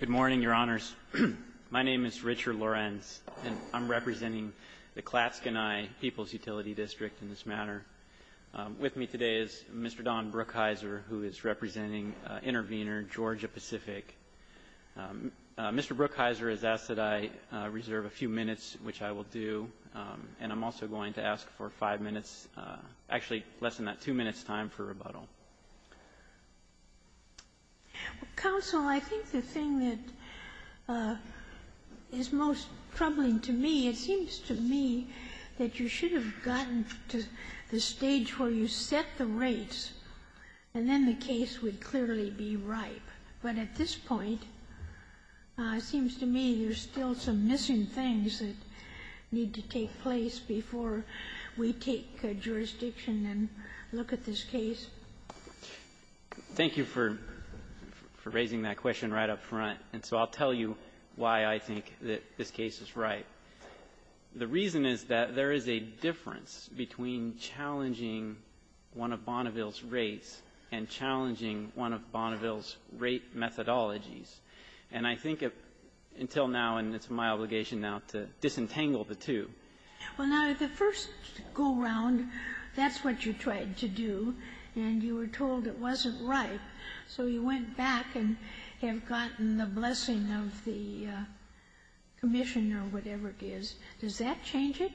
Good morning, Your Honors. My name is Richard Lorenz, and I'm representing the Clatskanie People's Utility District in this matter. With me today is Mr. Don Brookhiser, who is representing intervener Georgia Pacific. Mr. Brookhiser has asked that I reserve a few minutes, which I will do. And I'm also going to ask for five minutes, actually less than that, two minutes' time for rebuttal. Counsel, I think the thing that is most troubling to me, it seems to me that you should have gotten to the stage where you set the rates, and then the case would clearly be ripe. But at this point, it seems to me there's still some missing things that need to take place before we take jurisdiction and look at this case. Thank you for raising that question right up front. And so I'll tell you why I think that this case is right. The reason is that there is a difference between challenging one of Bonneville's rates and challenging one of Bonneville's rate methodologies. And I think until now, and it's my obligation now to disentangle the two. Well, now, the first go-round, that's what you tried to do, and you were told it wasn't So you went back and have gotten the blessing of the commission or whatever it is. Does that change it?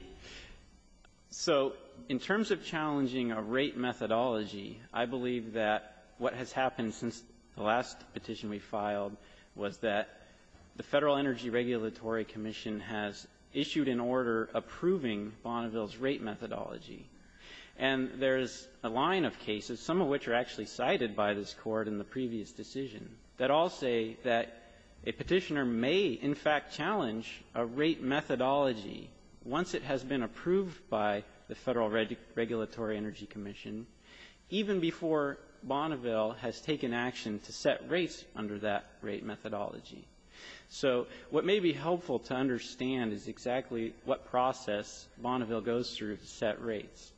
So in terms of challenging a rate methodology, I believe that what has happened since the last petition we filed was that the Federal Energy Regulatory Commission has issued an order approving Bonneville's rate methodology. And there's a line of cases, some of which are actually cited by this Court in the previous decision, that all say that a petitioner may in fact challenge a rate methodology once it has been approved by the Federal Regulatory Energy Commission, even before Bonneville has taken action to set rates under that rate methodology. So what may be helpful to understand is exactly what process Bonneville goes through to set rates.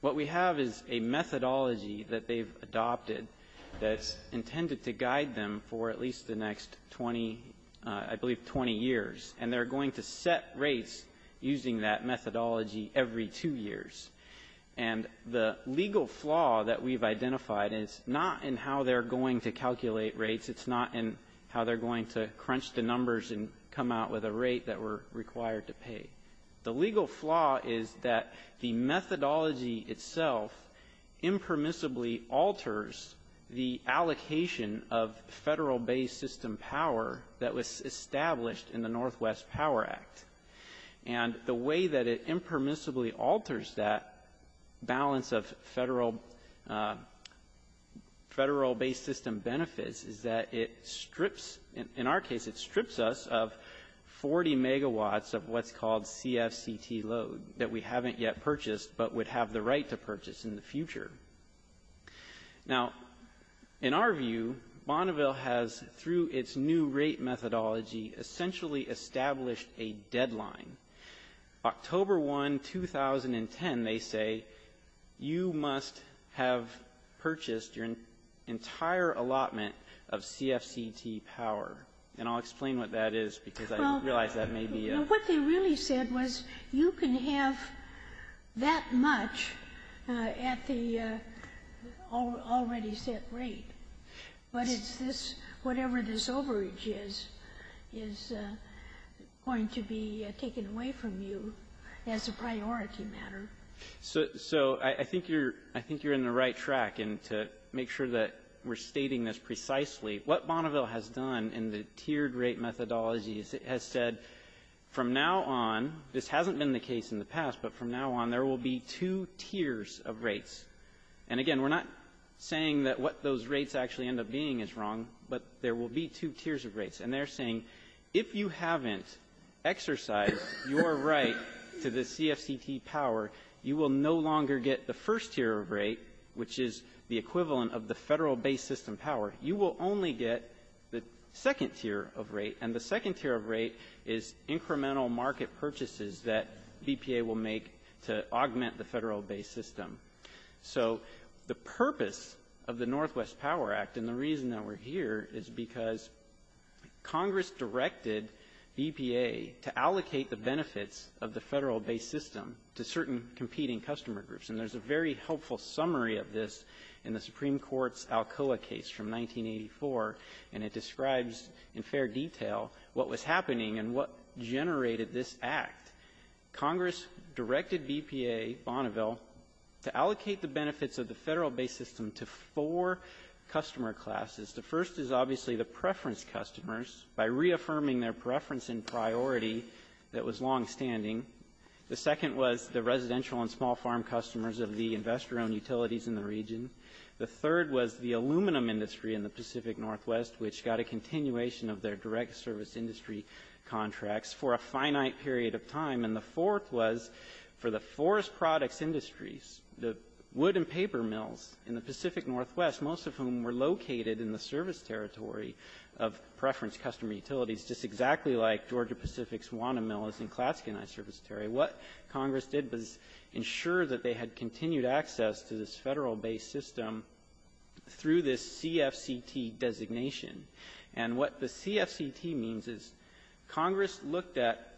What we have is a methodology that they've adopted that's intended to guide them for at least the next 20, I believe, 20 years. And they're going to set rates using that methodology every two years. And the legal flaw that we've identified is not in how they're going to calculate rates. It's not in how they're going to crunch the numbers and come out with a rate that we're required to pay. The legal flaw is that the methodology itself impermissibly alters the allocation of Federal-based system power that was established in the Northwest Power Act. And the way that it impermissibly alters that balance of Federal-based system benefits is that it strips, in our case, it strips us of 40 megawatts of what's called CFCT load that we haven't yet purchased but would have the right to purchase in the future. Now, in our view, Bonneville has, through its new rate methodology, essentially established a deadline. October 1, 2010, they say, you must have purchased your entire allotment of CFCT power. And I'll explain what that is, because I realize that may be a ---- So I think you're in the right track, and to make sure that we're stating this precisely, what Bonneville has done in the tiered rate methodology has said, from now on, this hasn't been the case in the past, but from now on, there will be two tiers of rates. And again, we're not saying that what those rates actually end up being is wrong, but there will be two tiers of rates. And they're saying, if you haven't exercised your right to the CFCT power, you will no longer get the first tier of rate, which is the equivalent of the Federal-based system power. You will only get the second tier of rate, and the second tier of rate is incremental market purchases that BPA will make to augment the Federal-based system. So the purpose of the Northwest Power Act, and the reason that we're here, is because Congress directed BPA to allocate the benefits of the Federal-based system to certain competing customer groups. And there's a very helpful summary of this in the Supreme Court's Alcoa case from 1984, and it describes in fair detail what was happening and what generated this act. Congress directed BPA, Bonneville, to allocate the benefits of the Federal-based system to four customer classes. The first is obviously the preference customers, by reaffirming their preference and priority that was longstanding. The second was the residential and small farm customers of the investor-owned utilities in the region. The third was the aluminum industry in the finite period of time. And the fourth was for the forest products industries, the wood and paper mills in the Pacific Northwest, most of whom were located in the service territory of preference customer utilities, just exactly like Georgia Pacific's Wanamill is in Klatske and Isurus Territory. What Congress did was ensure that they had continued access to this Federal-based system through this CFCT designation. And what the CFCT means is Congress looked at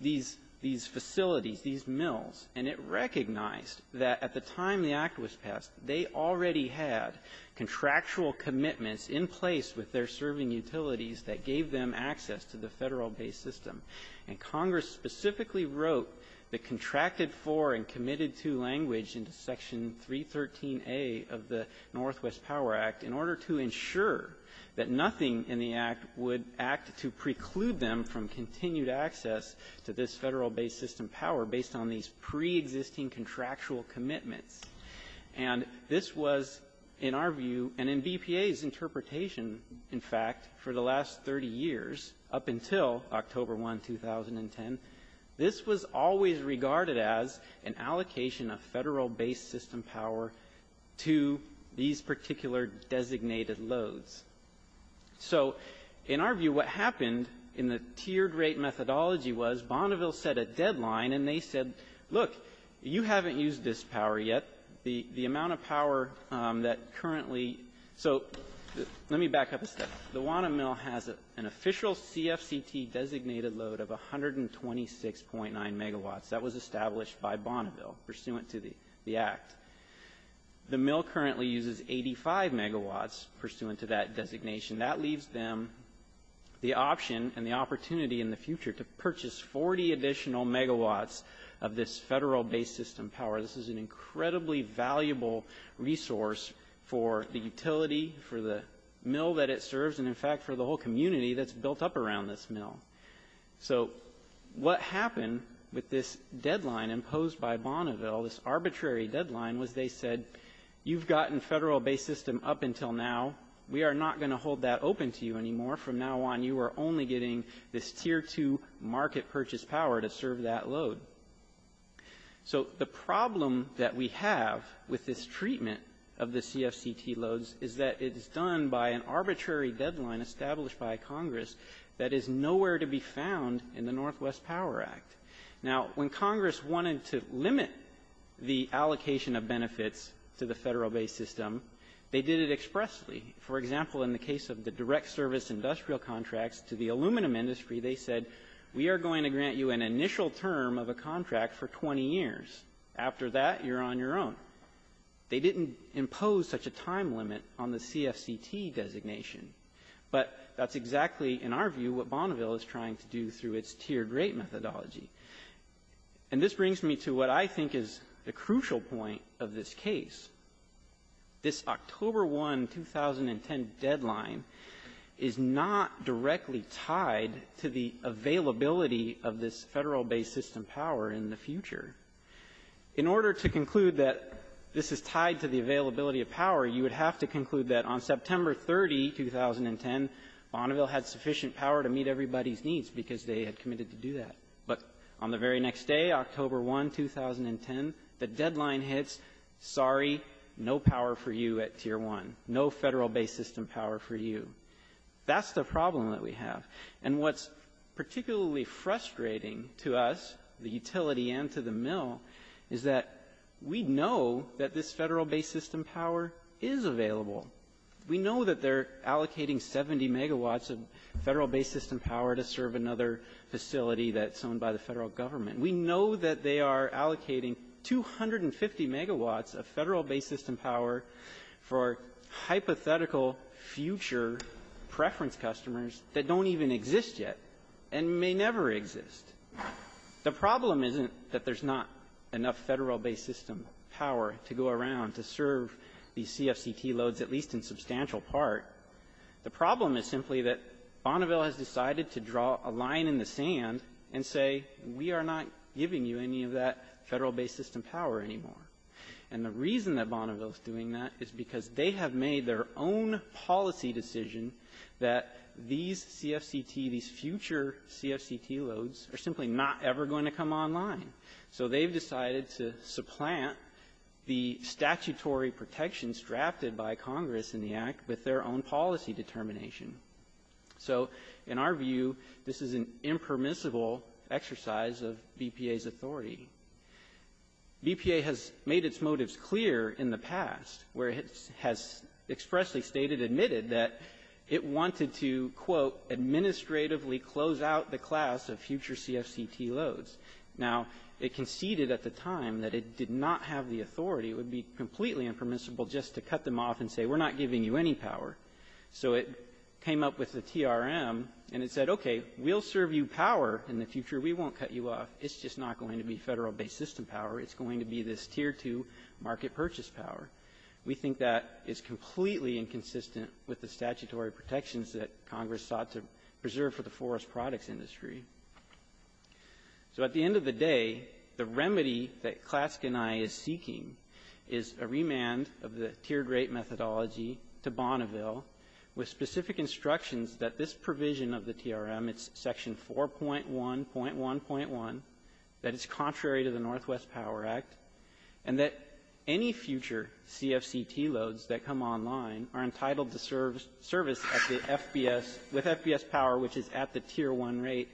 these facilities, these mills, and it recognized that at the time the act was passed, they already had contractual commitments in place with their serving utilities that gave them access to the Federal-based system. And Congress specifically wrote the contracted for and committed to language into Section 313A of the Northwest Power Act in order to ensure that nothing in the act would act to preclude them from continued access to this Federal-based system power based on these preexisting contractual commitments. And this was, in our view and in BPA's interpretation, in fact, for the last 30 years up until October 1, 2010, this was always regarded as an allocation of Federal-based system power to these particular designated loads. So in our view, what happened in the tiered rate methodology was Bonneville set a deadline and they said, look, you haven't used this power yet. The amount of power that currently so let me back up a step. The Wanamill has an official CFCT designated load of 126.9 megawatts. That was established by Bonneville pursuant to the act. The mill currently uses 85 megawatts pursuant to that designation. That leaves them the option and the opportunity in the future to purchase 40 additional megawatts of this Federal-based system power. This is an incredibly valuable resource for the utility, for the mill that it serves, and in fact, for the whole community that's built up around this mill. So what happened with this deadline imposed by Bonneville, this arbitrary deadline, was they said, you've gotten Federal- based system up until now. We are not going to hold that open to you anymore. From now on, you are only getting this tier 2 market purchase power to serve that load. So the problem that we have with this treatment of the CFCT loads is that it is done by an arbitrary deadline established by Congress that is nowhere to be found in the Northwest Power Act. Now, when Congress wanted to limit the allocation of benefits to the Federal-based system, they did it expressly. For example, in the case of the direct service industrial contracts to the aluminum industry, they said, we are going to grant you an initial term of a contract for 20 years. After that, you are on your own. They didn't impose such a time limit on the CFCT designation. But that's exactly, in our view, what Bonneville is trying to do through its tiered rate methodology. And this brings me to what I think is the crucial point of this case. This October 1, 2010 deadline is not directly tied to the availability of the CFCTs to the aluminum industry of this Federal-based system power in the future. In order to conclude that this is tied to the availability of power, you would have to conclude that on September 30, 2010, Bonneville had sufficient power to meet everybody's needs because they had committed to do that. But on the very next day, October 1, 2010, the deadline hits, sorry, no power for you at tier 1, no Federal-based system power for you. That's the problem that we have. And what's particularly frustrating to us, the utility and to the mill, is that we know that this Federal-based system power is available. We know that they're allocating 70 megawatts of Federal-based system power to serve another facility that's owned by the Federal government. We know that they are allocating 250 megawatts of Federal-based system power for hypothetical future preference customers that don't even exist yet and may never exist. The problem isn't that there's not enough Federal-based system power to go around to serve these CFCT loads, at least in substantial part. The problem is simply that Bonneville has decided to draw a line in the sand and say, we are not giving you any of that Federal-based system power anymore. And the reason that Bonneville is doing that is because they have made their own policy decision that these CFCT, these future CFCT loads, are simply not ever going to come online. So they've decided to supplant the statutory protections drafted by Congress in the Act with their own policy determination. So, in our view, this is an impermissible exercise of BPA's authority. BPA has made its motives clear in the past, and I think it's important in the past, where it has expressly stated, admitted that it wanted to, quote, administratively close out the class of future CFCT loads. Now, it conceded at the time that it did not have the authority. It would be completely impermissible just to cut them off and say, we're not giving you any power. So it came up with the TRM, and it said, okay, we'll serve you power in the future. We won't cut you off. We think that is completely inconsistent with the statutory protections that Congress sought to preserve for the forest products industry. So at the end of the day, the remedy that CLASC and I is seeking is a remand of the tiered rate methodology to Bonneville with specific instructions that this provision of the TRM, it's section 4.1.1.1, that it's contrary to the Northwest Power Act, and that any future CFCT loads that come online are entitled to service at the FBS, with FBS power, which is at the tier 1 rate,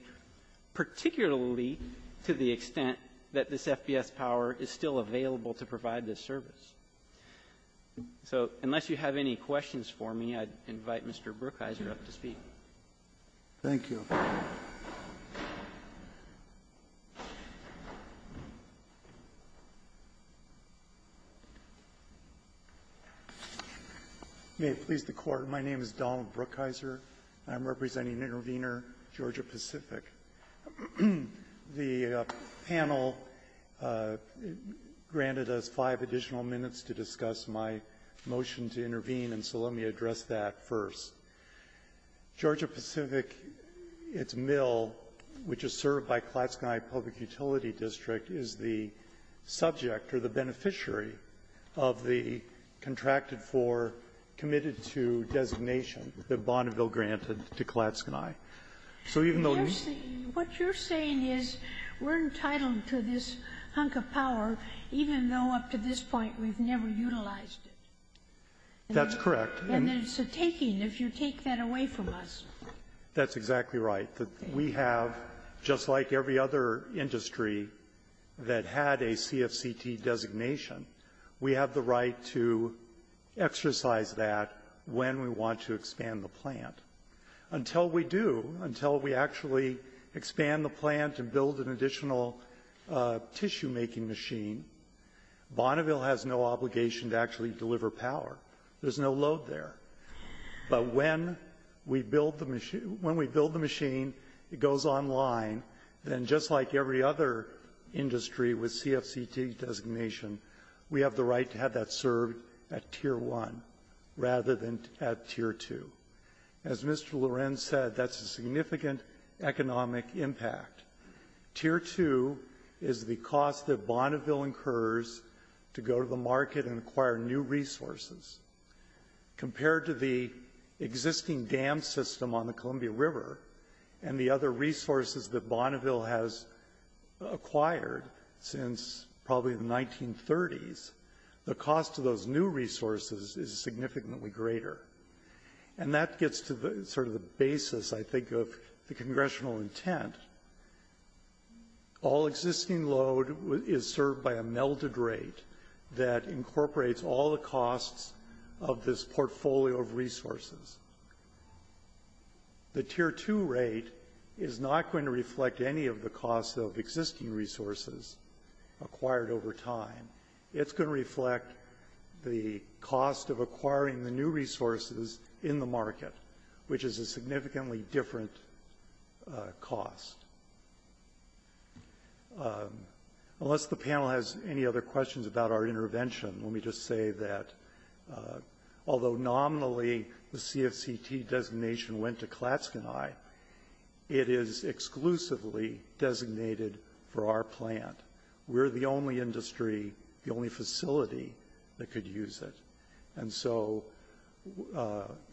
particularly to the extent that this FBS power is still available to provide this service. So unless you have any questions for me, I'd invite Mr. Brookhiser up to speak. Thank you. May it please the Court. My name is Donald Brookhiser, and I'm representing Intervenor Georgia Pacific. The panel granted us five additional minutes to discuss my motion to intervene, and so let me address that first. Georgia Pacific, its mill, which is served by CLASC and I Public Utility District, is the subject, or the beneficiary, of the contracted for, committed to designation that Bonneville granted to CLASC and I. So even though we see you What you're saying is we're entitled to this hunk of power, even though up to this point we've never utilized it. That's correct. And it's a taking, if you take that away from us. That's exactly right. We have, just like every other industry that had a CFCT designation, we have the right to exercise that when we want to expand the plant. Until we do, Bonneville has no obligation to actually deliver power. There's no load there. But when we build the machine, when we build the machine, it goes online. Then just like every other industry with CFCT designation, we have the right to have that served at Tier 1 rather than at Tier 2. As Mr. Lorenz said, that's a significant economic impact. Tier 2 is the cost that Bonneville incurs to go to the market and acquire new resources. Compared to the existing dam system on the Columbia River and the other resources that Bonneville has acquired since probably the 1930s, the cost of those new resources is significantly greater. And that gets to sort of the basis, I think, of the congressional intent. All existing load is served by a melded rate that incorporates all the costs of this portfolio of resources. The Tier 2 rate is not going to reflect any of the costs of existing resources acquired over time. It's going to reflect the cost of acquiring the new resources in the market, which is a significantly different cost. Unless the panel has any other questions about our intervention, let me just say that although nominally the CFCT designation went to Klatskanai, it is exclusively designated for our plant. We're the only industry, the only facility, that could use it. And so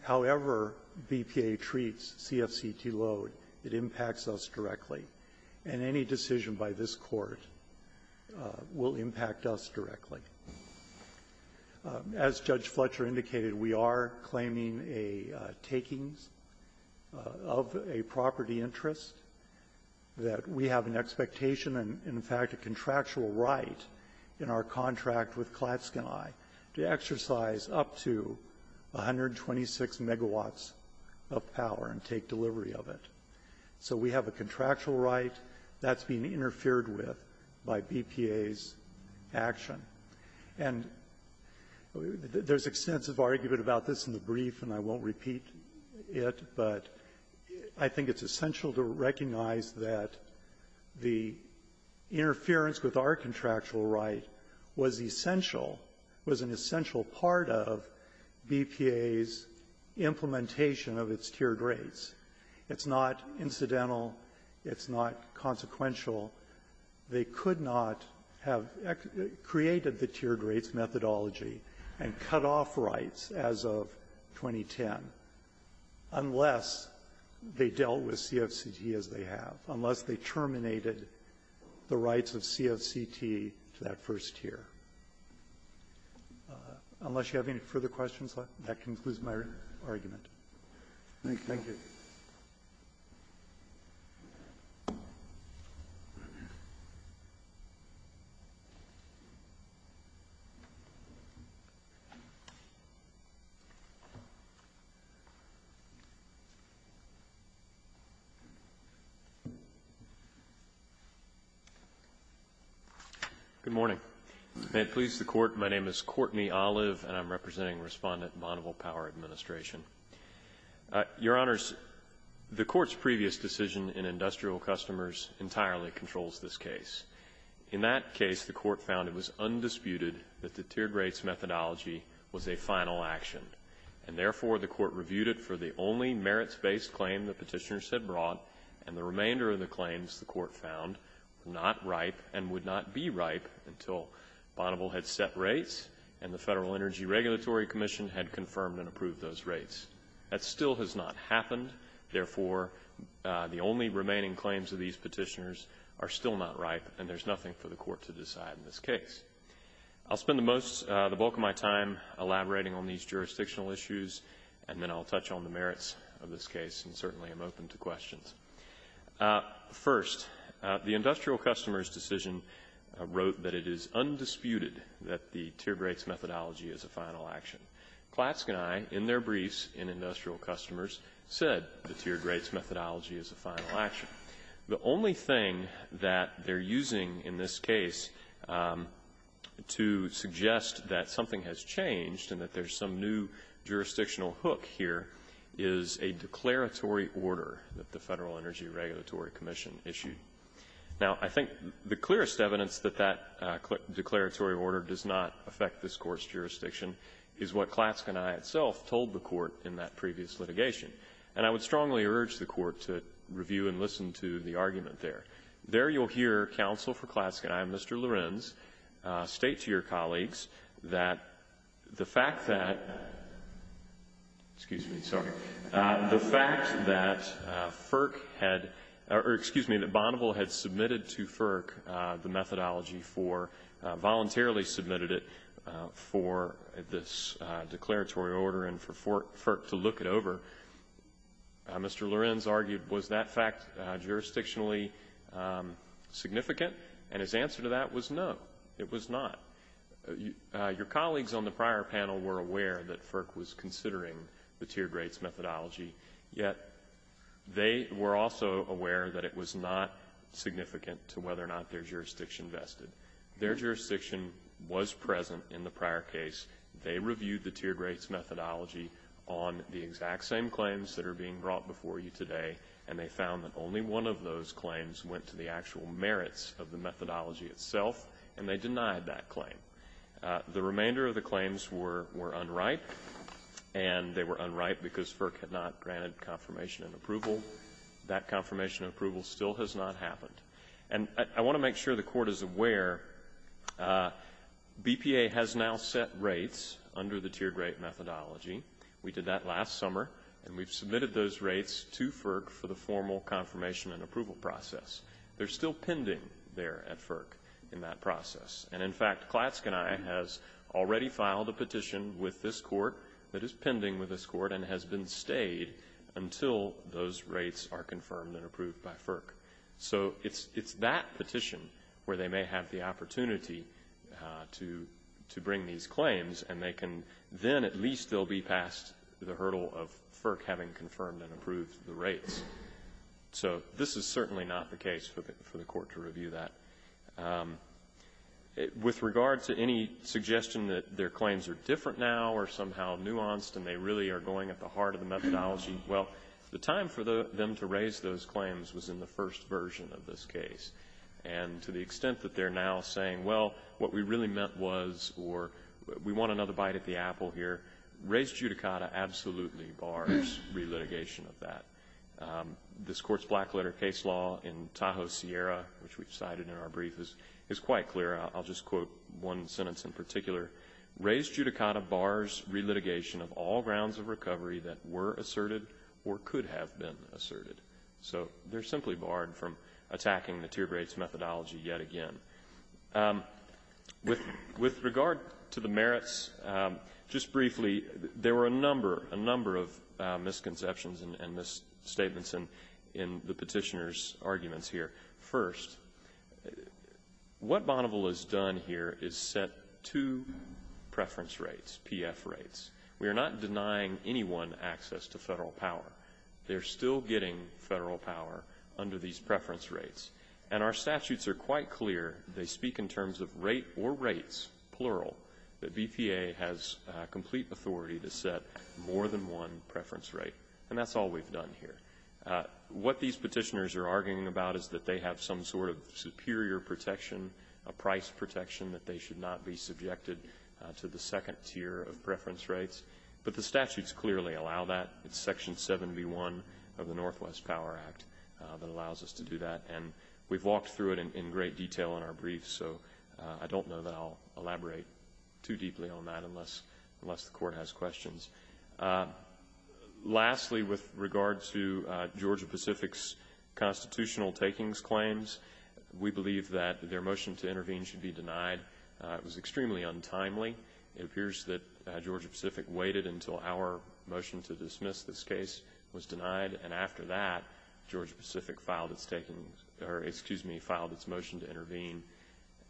however BPA treats CFCT load, it impacts us directly. And any decision by this Court will impact us directly. As Judge Fletcher indicated, we are claiming a takings of a property interest, that we have an expectation and, in fact, a contractual right in our contract with Klatskanai to exercise up to 126 megawatts of power and take delivery of it. So we have a contractual right that's being interfered with by BPA's action. And there's extensive argument about this in the brief, and I won't repeat it, but I think it's essential to recognize that the interference with our contractual right was essential, was an essential part of BPA's implementation of its tiered rates. It's not incidental. It's not consequential. They could not have created the tiered rates methodology and cut off rights as of 2010 unless they dealt with CFCT as they have, unless they terminated the rights of CFCT to that first tier. Unless you have any further questions, that concludes my argument. Thank you. Good morning. May it please the Court, my name is Courtney Olive, and I'm representing Respondent Bonneville Power Administration. Your Honors, the Court's previous decision in industrial customers entirely controls this case. In that case, the Court found it was undisputed that the tiered rates methodology was a final action. And therefore, the Court reviewed it for the only merits-based claim the petitioners had brought, and the remainder of the claims, the Court found, were not ripe and would not be ripe until Bonneville had set rates and the Federal Energy Regulatory Commission had confirmed and approved those rates. That still has not happened. Therefore, the only remaining claims of these petitioners are still not ripe, and there's nothing for the Court to decide in this case. I'll spend the bulk of my time elaborating on these jurisdictional issues, and then I'll touch on the merits of this case, and certainly I'm open to tiered rates methodology as a final action. Klatske and I, in their briefs in industrial customers, said the tiered rates methodology is a final action. The only thing that they're using in this case to suggest that something has changed and that there's some new jurisdictional hook here is a declaratory order that the Federal Energy Regulatory Commission issued. Now, I think the clearest evidence that that declaratory order does not affect this Court's jurisdiction is what Klatske and I itself told the Court in that previous litigation. And I would strongly urge the Court to review and listen to the argument there. There you'll hear counsel for Klatske and I, Mr. Lorenz, said, or excuse me, that Bonneville had submitted to FERC the methodology for, voluntarily submitted it for this declaratory order and for FERC to look it over. Mr. Lorenz argued, was that fact jurisdictionally significant? And his answer to that was no, it was not. Your colleagues on the prior panel were aware that FERC was not significant to whether or not their jurisdiction vested. Their jurisdiction was present in the prior case. They reviewed the tiered rates methodology on the exact same claims that are being brought before you today, and they found that only one of those claims went to the actual merits of the methodology itself, and they denied that claim. The remainder of the claims were unripe, and they were unripe because FERC had not granted confirmation and approval. That confirmation and approval still has not happened. And I want to make sure the Court is aware, BPA has now set rates under the tiered rate methodology. We did that last summer, and we've submitted those rates to FERC for the formal confirmation and approval process. They're still pending there at FERC in that process. And in fact, Klatsk and I has already filed a petition with this Court that is pending with this Court and has been stayed until those rates are confirmed and approved by FERC. So it's that petition where they may have the opportunity to bring these claims, and they can then at least they'll be past the hurdle of FERC having confirmed and approved the rates. So this is certainly not the case for the Court to review that. With regard to any suggestion that their claims are different now or somehow nuanced and they really are going at the heart of the methodology, well, the time for them to raise those claims was in the first version of this case. And to the extent that they're now saying, well, what we really meant was, or we want another bite at the apple here, res judicata absolutely bars relitigation of that. This Court's blackletter case law in Tahoe Sierra, which we've cited in our brief, is quite clear. I'll just quote one sentence in particular. Res judicata bars relitigation of all grounds of So they're simply barred from attacking the tiered rates methodology yet again. With regard to the merits, just briefly, there were a number, a number of misconceptions and misstatements in the petitioner's arguments here. First, what Bonneville has done here is set two preference rates, PF rates. We are not denying anyone access to Federal power. They're still getting Federal power under these preference rates. And our statutes are quite clear. They speak in terms of rate or rates, plural, that BPA has complete authority to set more than one preference rate. And that's all we've done here. What these petitioners are arguing about is that they have some sort of superior protection, a price protection, that they should not be subjected to the second tier of preference rates. But the statutes clearly allow that. It's Section 7B1 of the Northwest Power Act that allows us to do that. And we've walked through it in great detail in our brief. So I don't know that I'll elaborate too deeply on that unless the Court has questions. Lastly, with regard to Georgia Pacific's constitutional takings claims, we believe that their motion to intervene should be denied. It was extremely untimely. It appears that Georgia Pacific waited until our motion to dismiss this case was denied. And after that, Georgia Pacific filed its motion to intervene.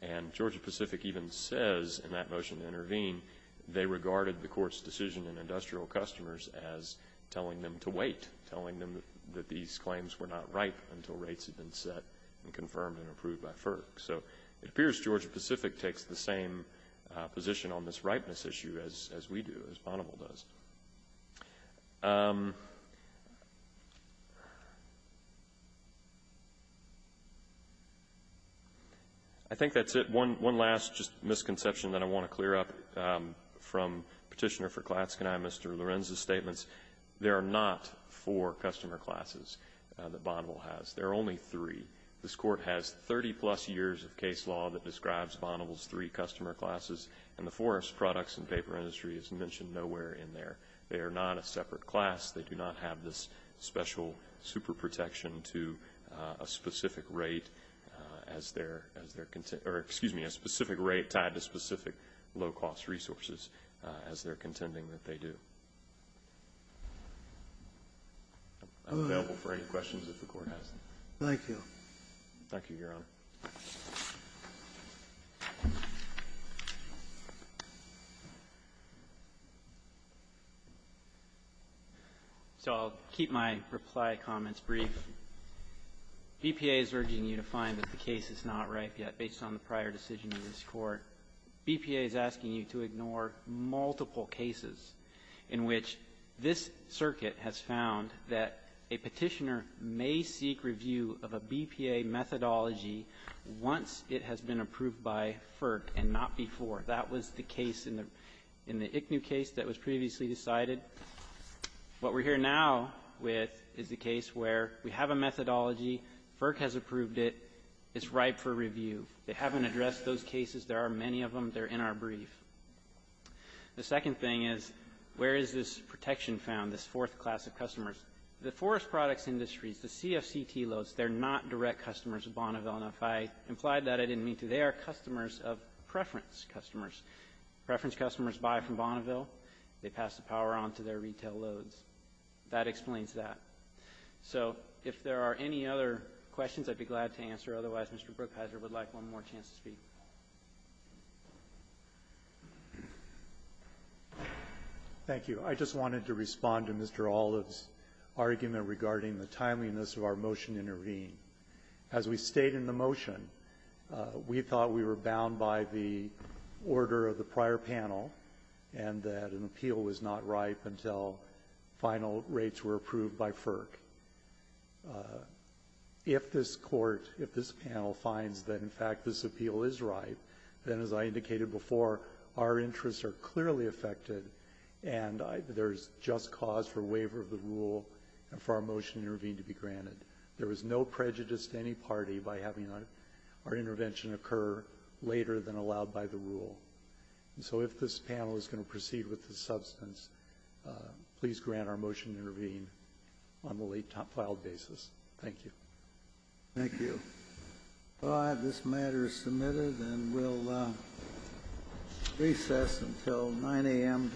And Georgia Pacific even says in that motion to intervene they regarded the Court's decision in industrial customers as telling them to wait, telling them that these claims were not ripe until rates had been set and confirmed and approved by FERC. So it appears Georgia Pacific takes the same position on this ripeness issue as we do, as Bonneville does. I think that's it. One last just misconception that I want to clear up from Petitioner for Klatske and I and Mr. Lorenz's statements. There are not four customer classes that Bonneville has. There are only three. This Court has 30-plus years of case law that I think the case in paper industry is mentioned nowhere in there. They are not a separate class. They do not have this special superprotection to a specific rate as they're contending or, excuse me, a specific rate tied to specific low-cost resources as they're contending that they do. I'm available for any questions if the Court has them. Thank you. Thank you, Your Honor. So I'll keep my reply comments brief. BPA is urging you to find that the case is not ripe yet based on the prior decision of this Court. BPA is asking you to ignore multiple cases in which this circuit has found that a Petitioner may seek review of a BPA methodology once it has been approved by FERC and not before. That was the case in the ICNHU case that was previously decided. What we're here now with is the case where we have a methodology. FERC has approved it. It's ripe for review. They haven't addressed those cases. There are many of them. They're in our brief. The second thing is, where is this protection found, this fourth class of customers? The forest products industries, the CFCT loads, they're not direct customers of Bonneville. And if I implied that, I didn't mean to. They are customers of preference customers. Preference customers buy from Bonneville. They pass the power on to their retail loads. That explains that. So if there are any other questions, I'd be glad to answer. Otherwise, Mr. Brookhiser would like one more chance to speak. Thank you. I just wanted to respond to Mr. Olive's argument regarding the timeliness of our motion to intervene. As we state in the motion, we thought we were bound by the order of the prior panel and that an appeal was not ripe until final rates were approved by FERC. If this Court, if this panel finds that, in fact, this appeal is ripe, then, as I indicated before, our interests are clearly affected, and there is just cause for waiver of the rule and for our motion to intervene to be granted. There is no prejudice to any party by having our intervention occur later than allowed by the rule. And so if this panel is going to proceed with this substance, please grant our motion to intervene on the late-filed basis. Thank you. Thank you. This matter is submitted, and we'll recess until 9 a.m. tomorrow morning.